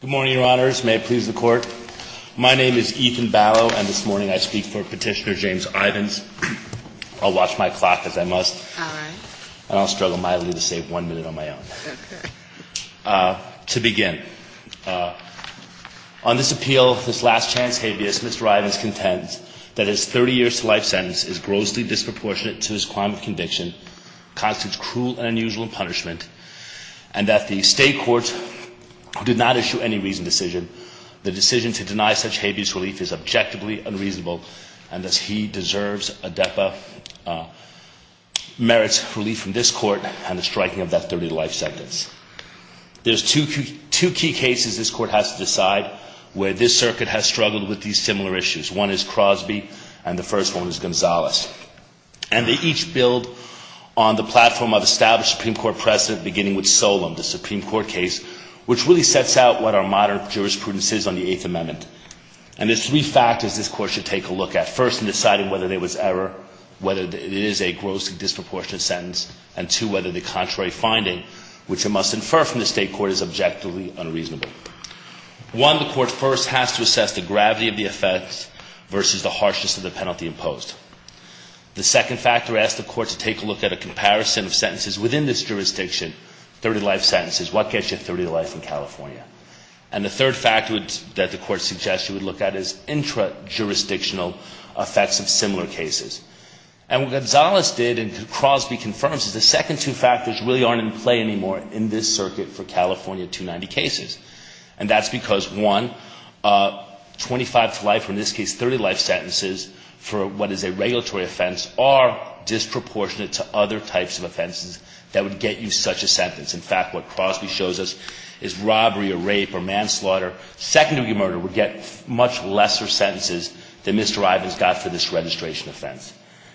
Good morning, Your Honors. May it please the Court. My name is Ethan Ballow, and this morning I speak for Petitioner James Ivins. I'll watch my clock as I must, and I'll struggle mildly to save one minute on my own. To begin, on this appeal, this last chance habeas, Mr. Ivins contends that his 30 years to life sentence is grossly disproportionate to his crime of conviction, constitutes cruel and unusual punishment, and that the State Court did not issue any reasoned decision. The decision to deny such habeas relief is objectively unreasonable, and thus he deserves a DEPA merits relief from this Court and the striking of that 30-year life sentence. There's two key cases this Court has to decide where this Circuit has struggled with these similar issues. One is Crosby, and the first one is Gonzalez. And they each build on the platform of established Supreme Court precedent beginning with Solemn, the Supreme Court case, which really sets out what our modern jurisprudence is on the Eighth Amendment. And there's three factors this Court should take a look at, first in deciding whether there was error, whether it is a grossly disproportionate sentence, and two, whether the contrary finding, which it must infer from the State Court, is objectively unreasonable. One, the Court first has to assess the gravity of the effects versus the harshness of the penalty imposed. The second factor asks the Court to take a look at a comparison of sentences within this jurisdiction, 30-life sentences. What gets you 30 life in California? And the third factor that the Court suggests you would look at is intra-jurisdictional effects of similar cases. And what Gonzalez did, and Crosby confirms, is the second two factors really aren't in play anymore in this Circuit for California 290 cases. And that's because, one, 25 to life, or in this case 30 life sentences, for what is a regulatory offense, are disproportionate to other types of offenses that would get you such a sentence. In fact, what Crosby shows us is robbery or rape or manslaughter, second-degree murder, would get much lesser sentences than Mr. Ivins got for this registration offense.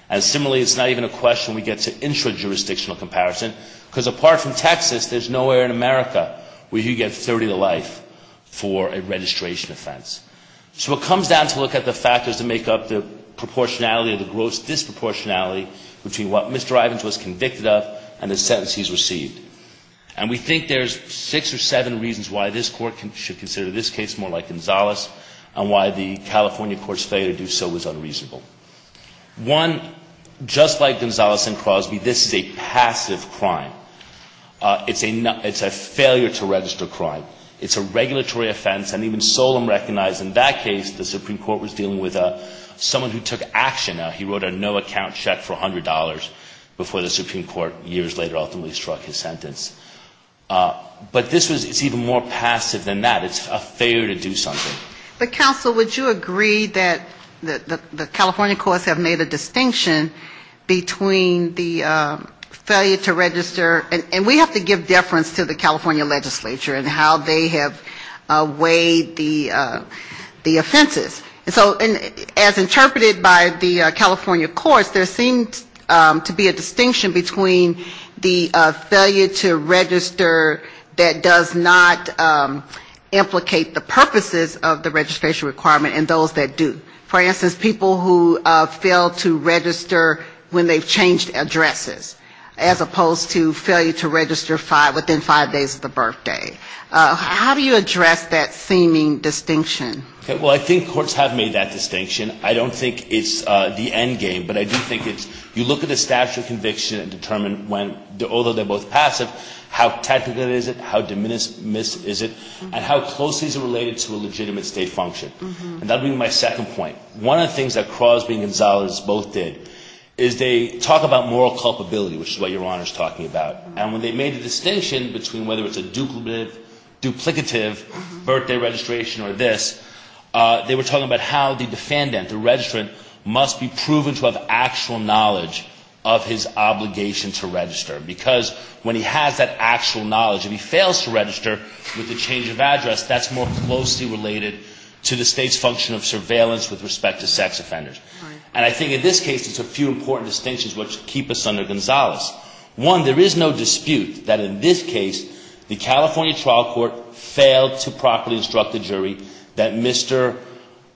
And similarly, it's not even a question we get to intra-jurisdictional comparison, because apart from Texas, there's nowhere in America where you get 30 to life for a registration offense. So it comes down to look at the factors that make up the proportionality or the gross disproportionality between what Mr. Ivins was convicted of and the sentence he's received. And we think there's six or seven reasons why this Court should consider this case more like Gonzalez and why the California Court's failure to do so was unreasonable. One, just like Gonzalez and Crosby, this is a passive crime. It's a failure to register crime. It's a regulatory offense. And even Solem recognized in that case the Supreme Court was dealing with someone who took action. He wrote a no-account check for $100 before the Supreme Court years later ultimately struck his sentence. But this was, it's even more passive than that. It's a failure to do something. But, counsel, would you agree that the California courts have made a distinction between the failure to register, and we have to give deference to the California legislature and how they have weighed the offenses. And so as interpreted by the California courts, there seems to be a distinction between the failure to register that does not implicate the purposes of the California court. And those that do. For instance, people who fail to register when they've changed addresses, as opposed to failure to register within five days of the birthday. How do you address that seeming distinction? Well, I think courts have made that distinction. I don't think it's the end game, but I do think it's you look at the statute of conviction and determine when, although they're both passive, how technical is it, how de minimis is it, and how closely is it related to a legitimate statute of conviction. And that would be my second point. One of the things that Crosby and Gonzalez both did is they talk about moral culpability, which is what Your Honor is talking about. And when they made the distinction between whether it's a duplicative birthday registration or this, they were talking about how the defendant, the registrant, must be proven to have actual knowledge of his obligation to register. Because when he has that actual knowledge, if he fails to register with the change of address, that's more closely related to the state's function of surveillance with respect to sex offenders. And I think in this case it's a few important distinctions which keep us under Gonzalez. One, there is no dispute that in this case the California trial court failed to properly instruct the jury that Mr.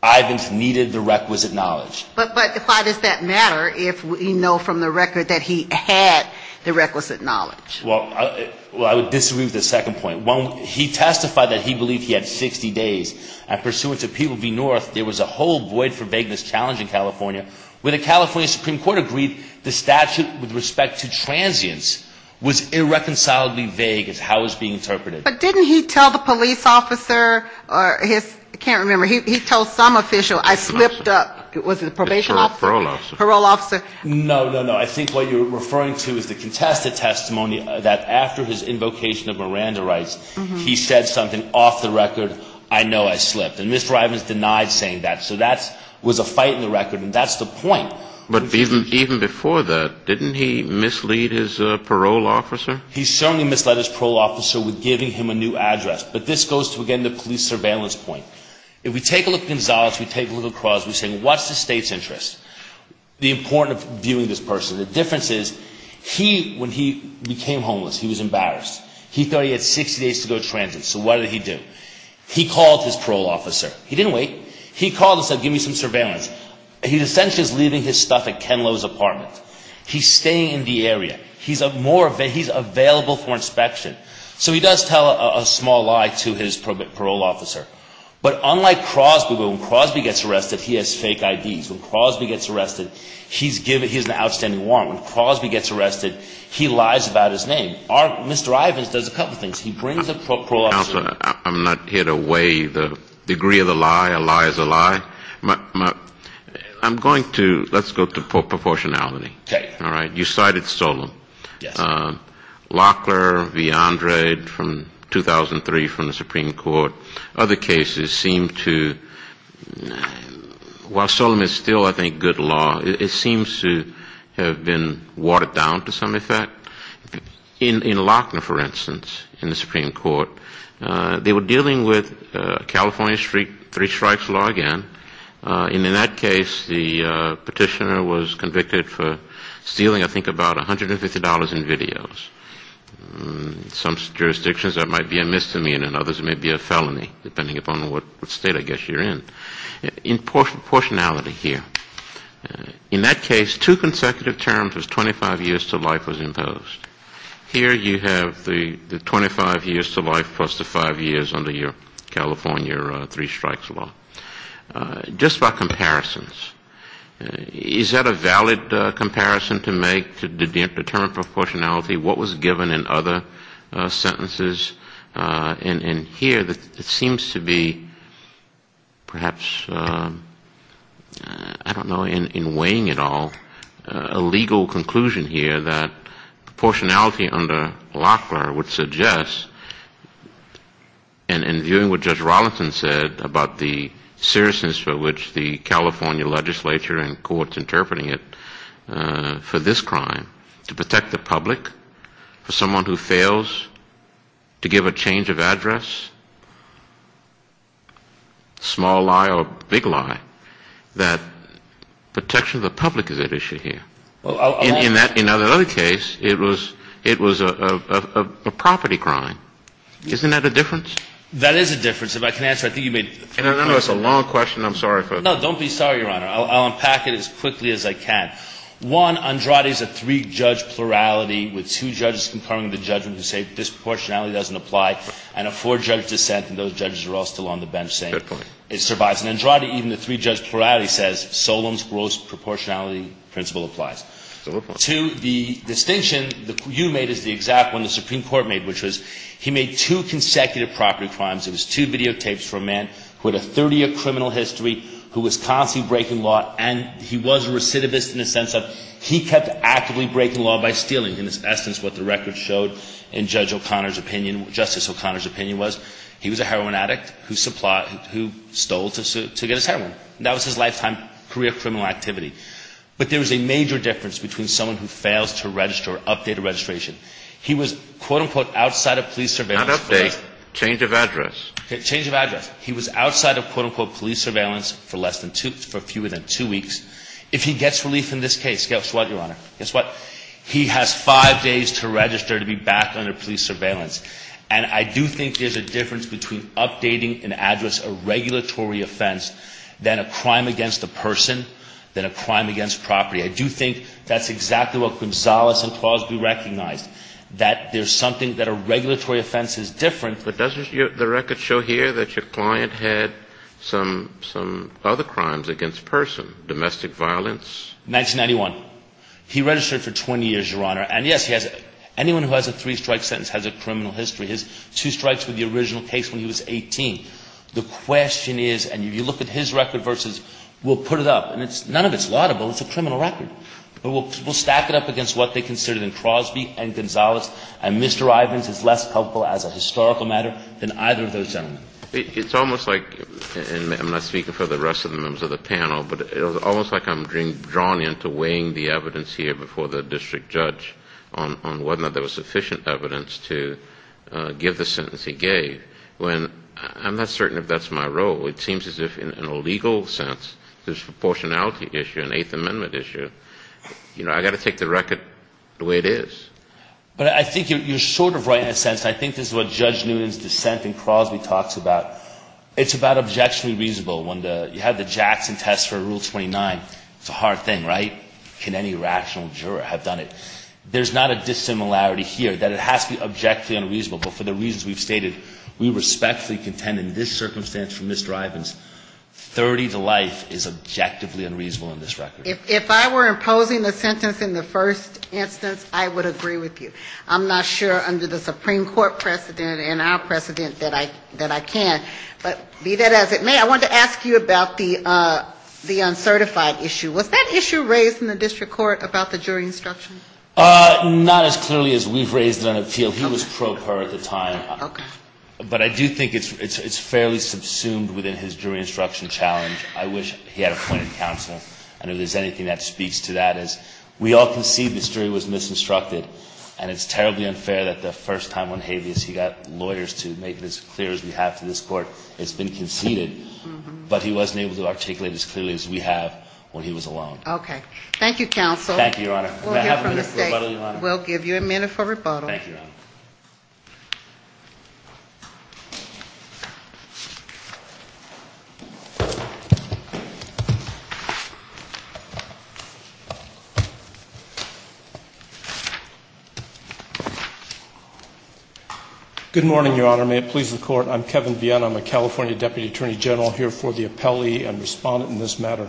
Ivins needed the requisite knowledge. But why does that matter if we know from the record that he had the requisite knowledge? Well, I would disagree with the second point. One, he testified that he believed he had 60 days. And pursuant to People v. North, there was a whole void for vagueness challenge in California, where the California Supreme Court agreed the statute with respect to transience was irreconcilably vague as how it was being interpreted. But didn't he tell the police officer or his, I can't remember, he told some official, I slipped up. Was it a probation officer? Parole officer. No, no, no. I think what you're referring to is the contested testimony that after his invocation of Miranda rights, he said something off the record, I know I slipped. And Mr. Ivins denied saying that. So that was a fight in the record. And that's the point. But even before that, didn't he mislead his parole officer? He certainly misled his parole officer with giving him a new address. But this goes to, again, the police surveillance point. If we take a look at Gonzalez, we take a look across, we say, what's the state's interest? The importance of viewing this person. The difference is, he, when he became homeless, he was embarrassed. He thought he had 60 days to go transit. So what did he do? He called his parole officer. He didn't wait. He called and said, give me some surveillance. He's essentially just leaving his stuff at Ken Lowe's apartment. He's staying in the area. He's available for inspection. So he does tell a small lie to his parole officer. But unlike Crosby, when Crosby gets arrested, he has fake IDs. When Crosby gets arrested, he's given, he has an outstanding warrant. When Crosby gets arrested, he lies about his name. Mr. Ivins does a couple of things. He brings a parole officer. Counsel, I'm not here to weigh the degree of the lie. A lie is a lie. I'm going to, let's go to proportionality. All right. You cited Solem. Lockler v. Andre from 2003 from the Supreme Court. Other cases seem to, while Solem is still, I think, good law, it seems to have been watered down to some effect. In Lockner, for instance, in the Supreme Court, they were dealing with California street three strikes law again. And in that case, the petitioner was convicted for stealing, I think, about $150 in videos. In some jurisdictions, that might be a misdemeanor. In others, it may be a felony, depending upon what state, I guess, you're in. In proportionality here, in that case, two consecutive terms, 25 years to life was imposed. Here you have the 25 years to life plus the five years under your California three strikes law. Just by comparisons, is that a valid comparison to make, to determine proportionality? What was given in other sentences? And here, it seems to be perhaps, I don't know, in weighing it all, a legal conclusion here that proportionality under Lockner would suggest, and in viewing what Judge Rollinson said about the, you know, seriousness for which the California legislature and courts interpreting it for this crime, to protect the public, for someone who fails to give a change of address, small lie or big lie, that protection of the public is at issue here. In that other case, it was a property crime. Isn't that a difference? That is a difference. If I can answer, I think you made three points on that. That's a long question. I'm sorry. No, don't be sorry, Your Honor. I'll unpack it as quickly as I can. One, Andrade's a three-judge plurality with two judges concurring the judgment who say disproportionality doesn't apply, and a four-judge dissent, and those judges are all still on the bench saying it survives. Good point. And Andrade, even the three-judge plurality, says Solemn's gross proportionality principle applies. Good point. Two, the distinction you made is the exact one the Supreme Court made, which was he made two consecutive property crimes. It was two videotapes for a man who had a 30-year criminal history, who was constantly breaking law, and he was a recidivist in the sense of he kept actively breaking law by stealing. In essence, what the record showed in Judge O'Connor's opinion, Justice O'Connor's opinion was, he was a heroin addict who stole to get his heroin. That was his lifetime career criminal activity. But there was a major difference between someone who fails to register or update a registration. He was, quote, unquote, outside of police surveillance. He did not update. Change of address. Change of address. He was outside of, quote, unquote, police surveillance for less than two, for fewer than two weeks. If he gets relief in this case, guess what, Your Honor? Guess what? He has five days to register to be back under police surveillance. And I do think there's a difference between updating an address, a regulatory offense, than a crime against a person, than a crime against property. I do think that's exactly what Gonzales and Clause B recognized, that there's something that a regulatory offense is different. But doesn't the record show here that your client had some other crimes against person? Domestic violence? 1991. He registered for 20 years, Your Honor. And yes, he has anyone who has a three-strike sentence has a criminal history. His two strikes were the original case when he was 18. The question is, and if you look at his record versus, we'll put it up, and none of it's laudable. It's a criminal record. But we'll stack it up against what they considered in Clause B and Gonzales, and Mr. Ivins is less helpful as a historical matter than either of those gentlemen. It's almost like, and I'm not speaking for the rest of the members of the panel, but it's almost like I'm being drawn into weighing the evidence here before the district judge on whether there was sufficient evidence to give the sentence he gave, when I'm not certain if that's my role. It seems as if in a Fifth Amendment issue, you know, I've got to take the record the way it is. But I think you're sort of right in a sense, and I think this is what Judge Noonan's dissent in Clause B talks about. It's about objectionably reasonable when you have the Jackson test for Rule 29. It's a hard thing, right? Can any rational juror have done it? There's not a dissimilarity here that it has to be objectively unreasonable. But for the reasons we've stated, we respectfully contend in this circumstance from Mr. Ivins, 30 to life is objectively unreasonable in this record. If I were imposing a sentence in the first instance, I would agree with you. I'm not sure under the Supreme Court precedent and our precedent that I can. But be that as it may, I wanted to ask you about the uncertified issue. Was that issue raised in the district court about the jury instruction? Not as clearly as we've raised it on appeal. He was pro per at the time. Okay. But I do think it's fairly subsumed within his jury instruction challenge. I wish he had appointed counsel. I don't know if there's anything that speaks to that. We all concede the jury was misinstructed. And it's terribly unfair that the first time on habeas he got lawyers to make it as clear as we have to this court. It's been conceded. But he wasn't able to articulate as clearly as we have when he was alone. Okay. Thank you, counsel. Thank you, Your Honor. Thank you, Your Honor. Good morning, Your Honor. May it please the court, I'm Kevin Vienne. I'm a California Deputy Attorney General here for the appellee and respondent in this matter.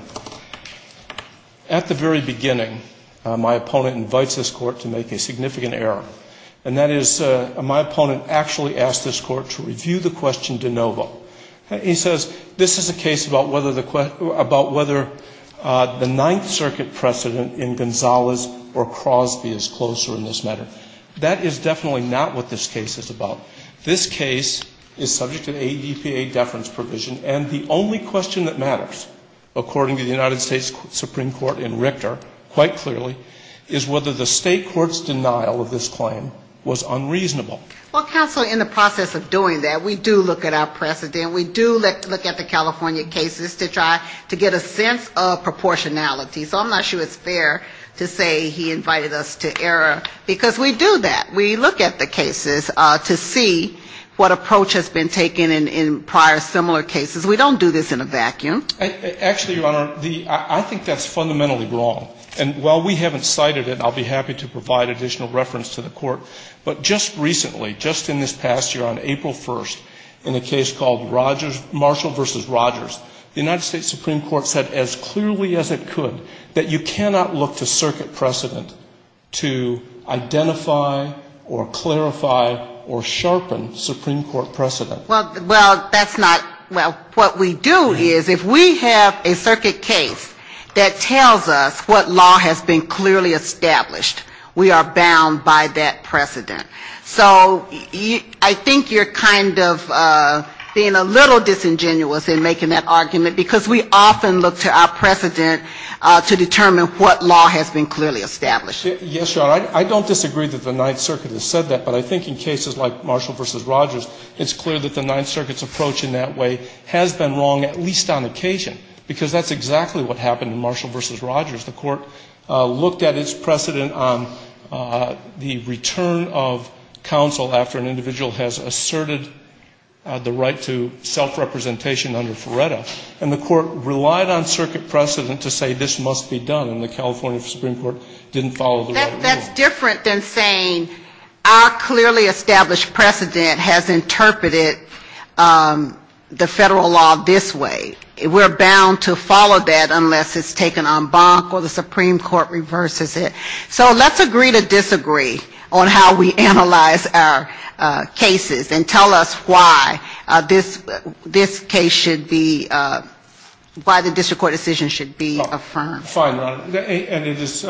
At the very beginning, my opponent invites this court to make a case. My opponent actually asks this court to review the question de novo. He says this is a case about whether the Ninth Circuit precedent in Gonzalez or Crosby is closer in this matter. That is definitely not what this case is about. This case is subject to ADPA deference provision. And the only question that matters, according to the United States Supreme Court in Richter, quite clearly, is whether the state court's denial of this claim was unreasonable. Well, counsel, in the process of doing that, we do look at our precedent. We do look at the California cases to try to get a sense of proportionality. So I'm not sure it's fair to say he invited us to error. Because we do that. We look at the cases to see what approach has been taken in prior similar cases. We don't do this in a vacuum. Actually, Your Honor, I think that's fundamentally wrong. And while we haven't cited it, I'll be happy to provide additional reference to the court. But just recently, just in this past year, on April 1st, in a case called Marshall v. Rogers, the United States Supreme Court said as clearly as it could that you cannot look to circuit precedent to identify or clarify or sharpen Supreme Court precedent. Well, that's not what we do is if we have a circuit case that tells us what law has been clearly established, we are bound by that precedent. So I think you're kind of being a little disingenuous in making that argument, because we often look to our precedent to determine what law has been clearly established. Yes, Your Honor. I don't disagree that the Ninth Circuit has said that. But I think in cases like Marshall v. Rogers, it's clear that the Ninth Circuit's approach in that way has been wrong, at least on occasion, because that's exactly what happened in Marshall v. Rogers. The court looked at its precedent on the return of counsel after an individual has asserted the right to self-representation under FRERETA. And the court relied on circuit precedent to say this must be done. And the California District Court said that's different than saying our clearly established precedent has interpreted the federal law this way. We're bound to follow that unless it's taken en banc or the Supreme Court reverses it. So let's agree to disagree on how we analyze our cases and tell us why this case should be, why the district court decision should be affirmed. Fine, Your Honor. And it is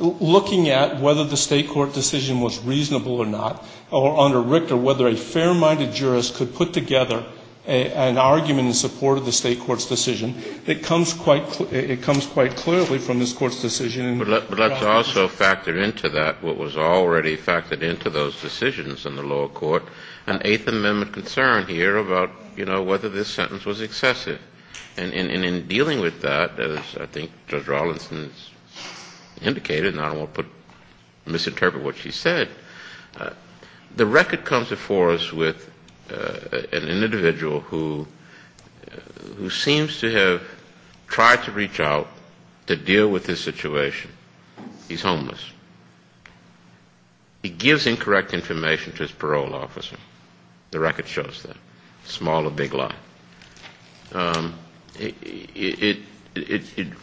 looking at whether the state court decision was reasonable or not, or under Richter, whether a fair-minded jurist could put together an argument in support of the state court's decision. It comes quite clearly from this court's decision. But let's also factor into that what was already factored into those decisions in the lower court, an Eighth Amendment concern here about, you know, whether this sentence was excessive. And in dealing with that, as I think Judge Rawlinson has indicated, and I don't want to misinterpret what she said, the record comes before us with an individual who seems to have tried to reach out to deal with this situation. He's homeless. He gives incorrect information to his parole officer. The record shows that. Small to big lie. It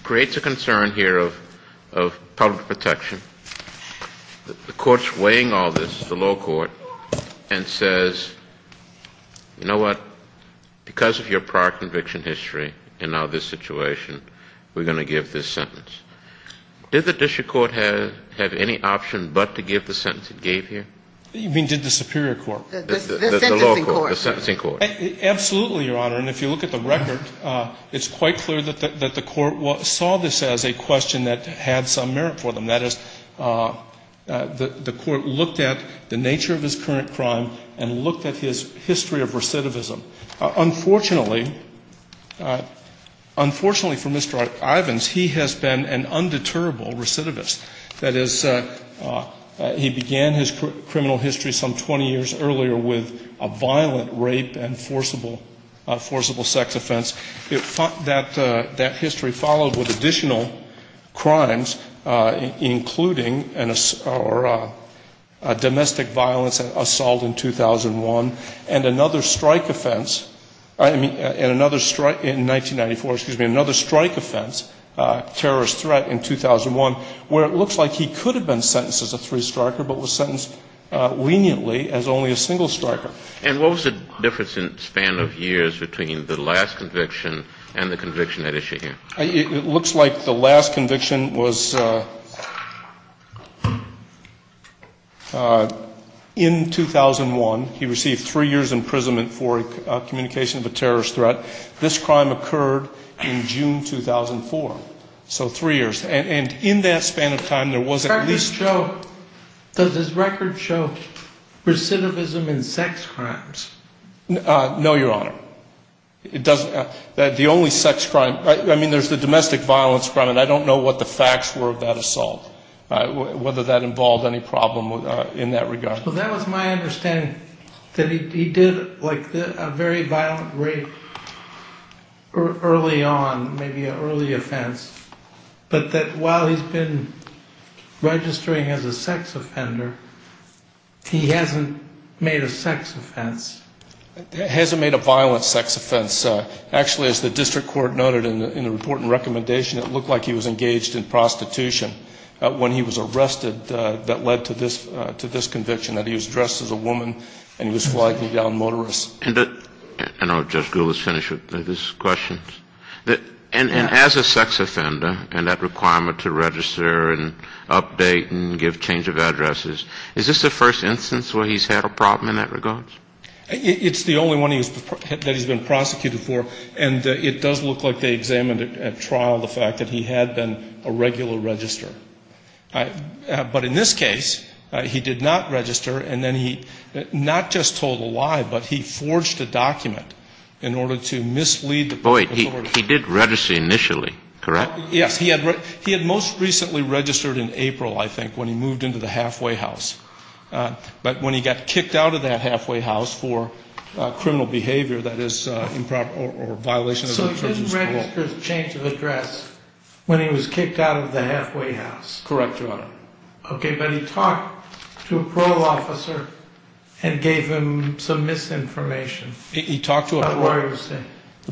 creates a concern here of public protection. The court's weighing all this, the lower court, and says, you know what, because of your prior conviction history and now this situation, we're going to give this sentence. Did the district court have any option but to give the sentence it gave here? You mean did the superior court? The sentencing court. Absolutely, Your Honor. And if you look at the record, it's quite clear that the court saw this as a question that had some merit for them. That is, the court looked at the nature of his current crime and looked at his history of recidivism. Unfortunately, unfortunately for Mr. Ivins, he has been an undeterrable recidivist. That is, he began his criminal history some 20 years earlier with a violent rape and forcible sex offense. That history followed with additional crimes, including domestic violence and assault in 2001, and another strike offense in 1994, excuse me, another strike offense, terrorist threat in 2001, where it looks like he could have been sentenced as a three striker but was sentenced leniently as only a single striker. And what was the difference in span of years between the last conviction and the conviction at issue here? It looks like the last conviction was in 2001. He received three years' imprisonment for communication of a terrorist threat. This crime occurred in June 2004. So three years and in that span of time there was at least... Does his record show recidivism in sex crimes? No, Your Honor. The only sex crime, I mean, there's the domestic violence crime and I don't know what the facts were of that assault, whether that involved any problem in that regard. Well, that was my understanding, that he did like a very violent rape early on, maybe an early offense. But that while he's been registering as a sex offender, he hasn't made a sex offense. Hasn't made a violent sex offense. Actually, as the district court noted in the report and recommendation, it looked like he was engaged in prostitution when he was arrested that led to this conviction, that he was dressed as a woman and he was flying down motorists. And I'll just finish with this question. And as a sex offender and that requirement to register and update and give change of addresses, is this the first instance where he's had a problem in that regard? It's the only one that he's been prosecuted for and it does look like they examined at trial the fact that he had been a regular registrar. But in this case, he did not register and then he not just told a lie, but he forged a document in order to mislead the court. He did register initially, correct? Yes. He had most recently registered in April, I think, when he moved into the halfway house. But when he got kicked out of that halfway house for criminal behavior that is improper or violation of the terms of the law. So he didn't register as a change of address when he was kicked out of the halfway house. Correct, Your Honor. Okay. But he talked to a parole officer and gave him some misinformation. He talked to a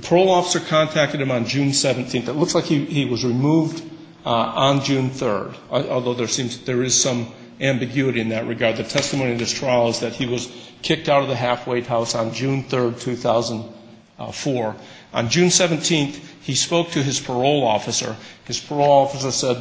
parole officer, contacted him on June 17th. It looks like he was removed on June 3rd. Although there seems there is some ambiguity in that regard. The testimony in this trial is that he was kicked out of the halfway house on June 3rd, 2004. On June 17th, he spoke to his parole officer. His parole officer said,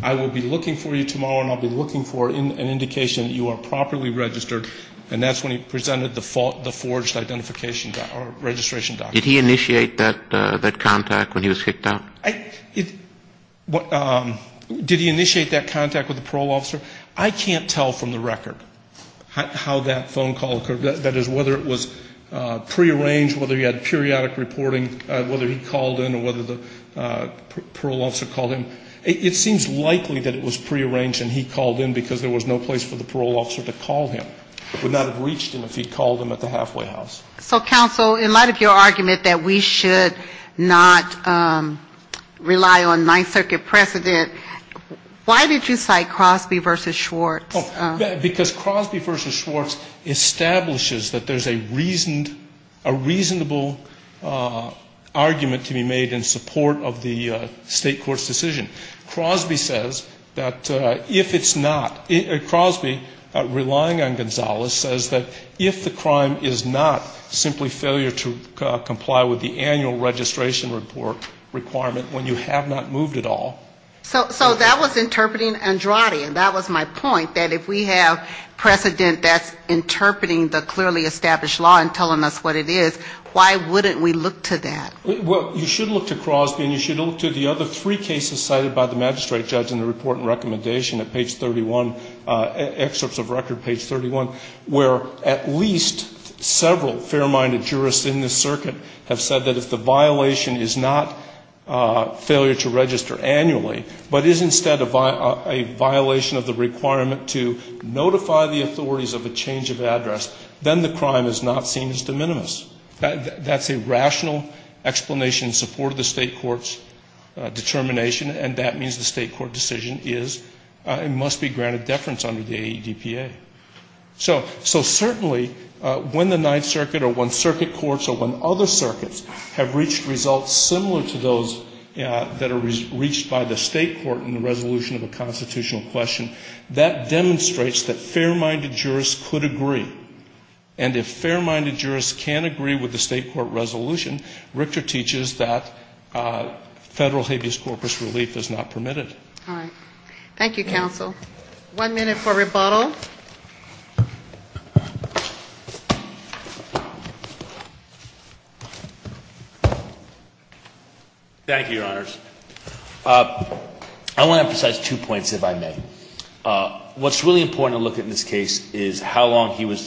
I will be looking for you tomorrow and I'll be looking for an indication that you are properly registered. And that's when he presented the forged identification or registration document. Did he initiate that contact when he was kicked out? Did he initiate that contact with the parole officer? I can't tell from the record how that phone call occurred. That is, whether it was prearranged, whether he had periodic reporting, whether he called in or whether the parole officer called in. It seems likely that it was prearranged and he called in because there was no place for the parole officer to call him. Would not have reached him if he called him at the halfway house. So, counsel, in light of your argument that we should not rely on Ninth Circuit precedent, why did you cite Crosby v. Schwartz? Because Crosby v. Schwartz establishes that there's a reasonable argument to be made in support of the state court's decision. Crosby says that if it's not, Crosby, relying on Gonzales, says that if the crime is not simply failure to comply with the annual registration report requirement when you have not moved at all. So that was interpreting Andrade, and that was my point, that if we have precedent that's interpreting the clearly established law and telling us what it is, why wouldn't we look to that? Well, you should look to Crosby and you should look to the other three cases cited by the magistrate judge in the report and recommendation at page 31, excerpts of record page 31, where at least several fair-minded jurists in this case have said that if the crime is not seen as de minimis, but is instead a violation of the requirement to notify the authorities of a change of address, then the crime is not seen as de minimis. That's a rational explanation in support of the state court's determination, and that means the state court decision is and must be granted deference under the AEDPA. So certainly when the Ninth Circuit or when circuit courts or when other circuits have reached results similar to those that are reached by the state court in the resolution of a constitutional question, that demonstrates that fair-minded jurists could agree. And if fair-minded jurists can't agree with the state court resolution, Richter teaches that federal habeas corpus relief is not permitted. All right. Thank you, counsel. One minute for rebuttal. Thank you, Your Honors. I want to emphasize two points, if I may. What's really important to look at in this case is how long he was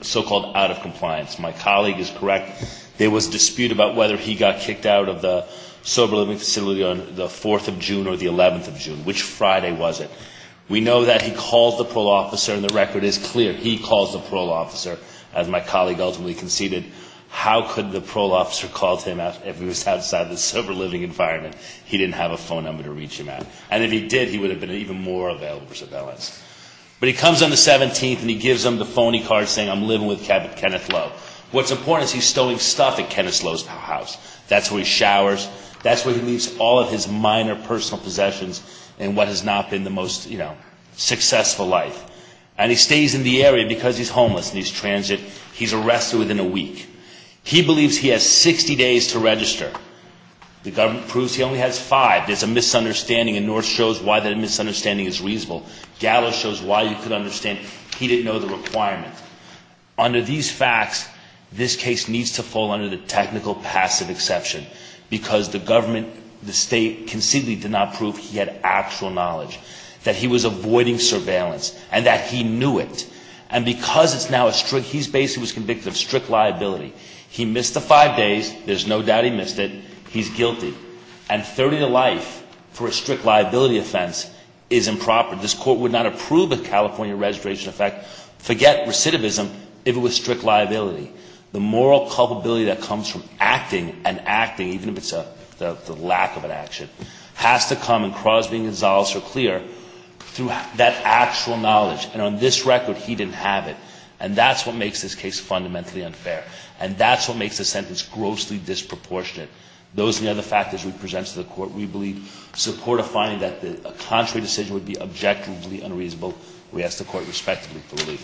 so-called out of compliance. My colleague is correct. There was a dispute about whether he got kicked out of the sober living facility on the 4th of June or the 5th of June. And the record is clear. He calls the parole officer. As my colleague ultimately conceded, how could the parole officer call him out if he was outside the sober living environment? He didn't have a phone number to reach him at. And if he did, he would have been even more available for surveillance. But he comes on the 17th, and he gives him the phony card saying, I'm living with Kenneth Lowe. What's important is he's stealing stuff at Kenneth Lowe's house. That's where he showers. That's where he leaves all of his minor personal possessions and what has not been the most, you know, successful life. And he stays in the area because he's homeless and he's transit. He's arrested within a week. He believes he has 60 days to register. The government proves he only has five. There's a misunderstanding, and North shows why that misunderstanding is reasonable. Gallo shows why you could understand. He didn't know the requirement. Under these facts, this case needs to fall under the technical passive exception because the government, the state, conceivably did not prove he had actual knowledge, that he was avoiding surveillance, and that he knew it. And because it's now a strict, he's basically was convicted of strict liability. He missed the five days. There's no doubt he missed it. He's guilty. And 30 to life for a strict liability offense is improper. This Court would not approve a California registration effect, forget recidivism, if it was strict liability. The moral culpability that comes from acting and acting, even if it's the lack of an action, has to come in Crosby and Gonzales or Clear through that actual knowledge. And on this record, he didn't have it. And that's what makes this case fundamentally unfair. And that's what makes the sentence grossly disproportionate. Those are the other factors we present to the Court. We believe support a finding that a contrary decision would be objectively unreasonable. We ask the Court respectfully for relief.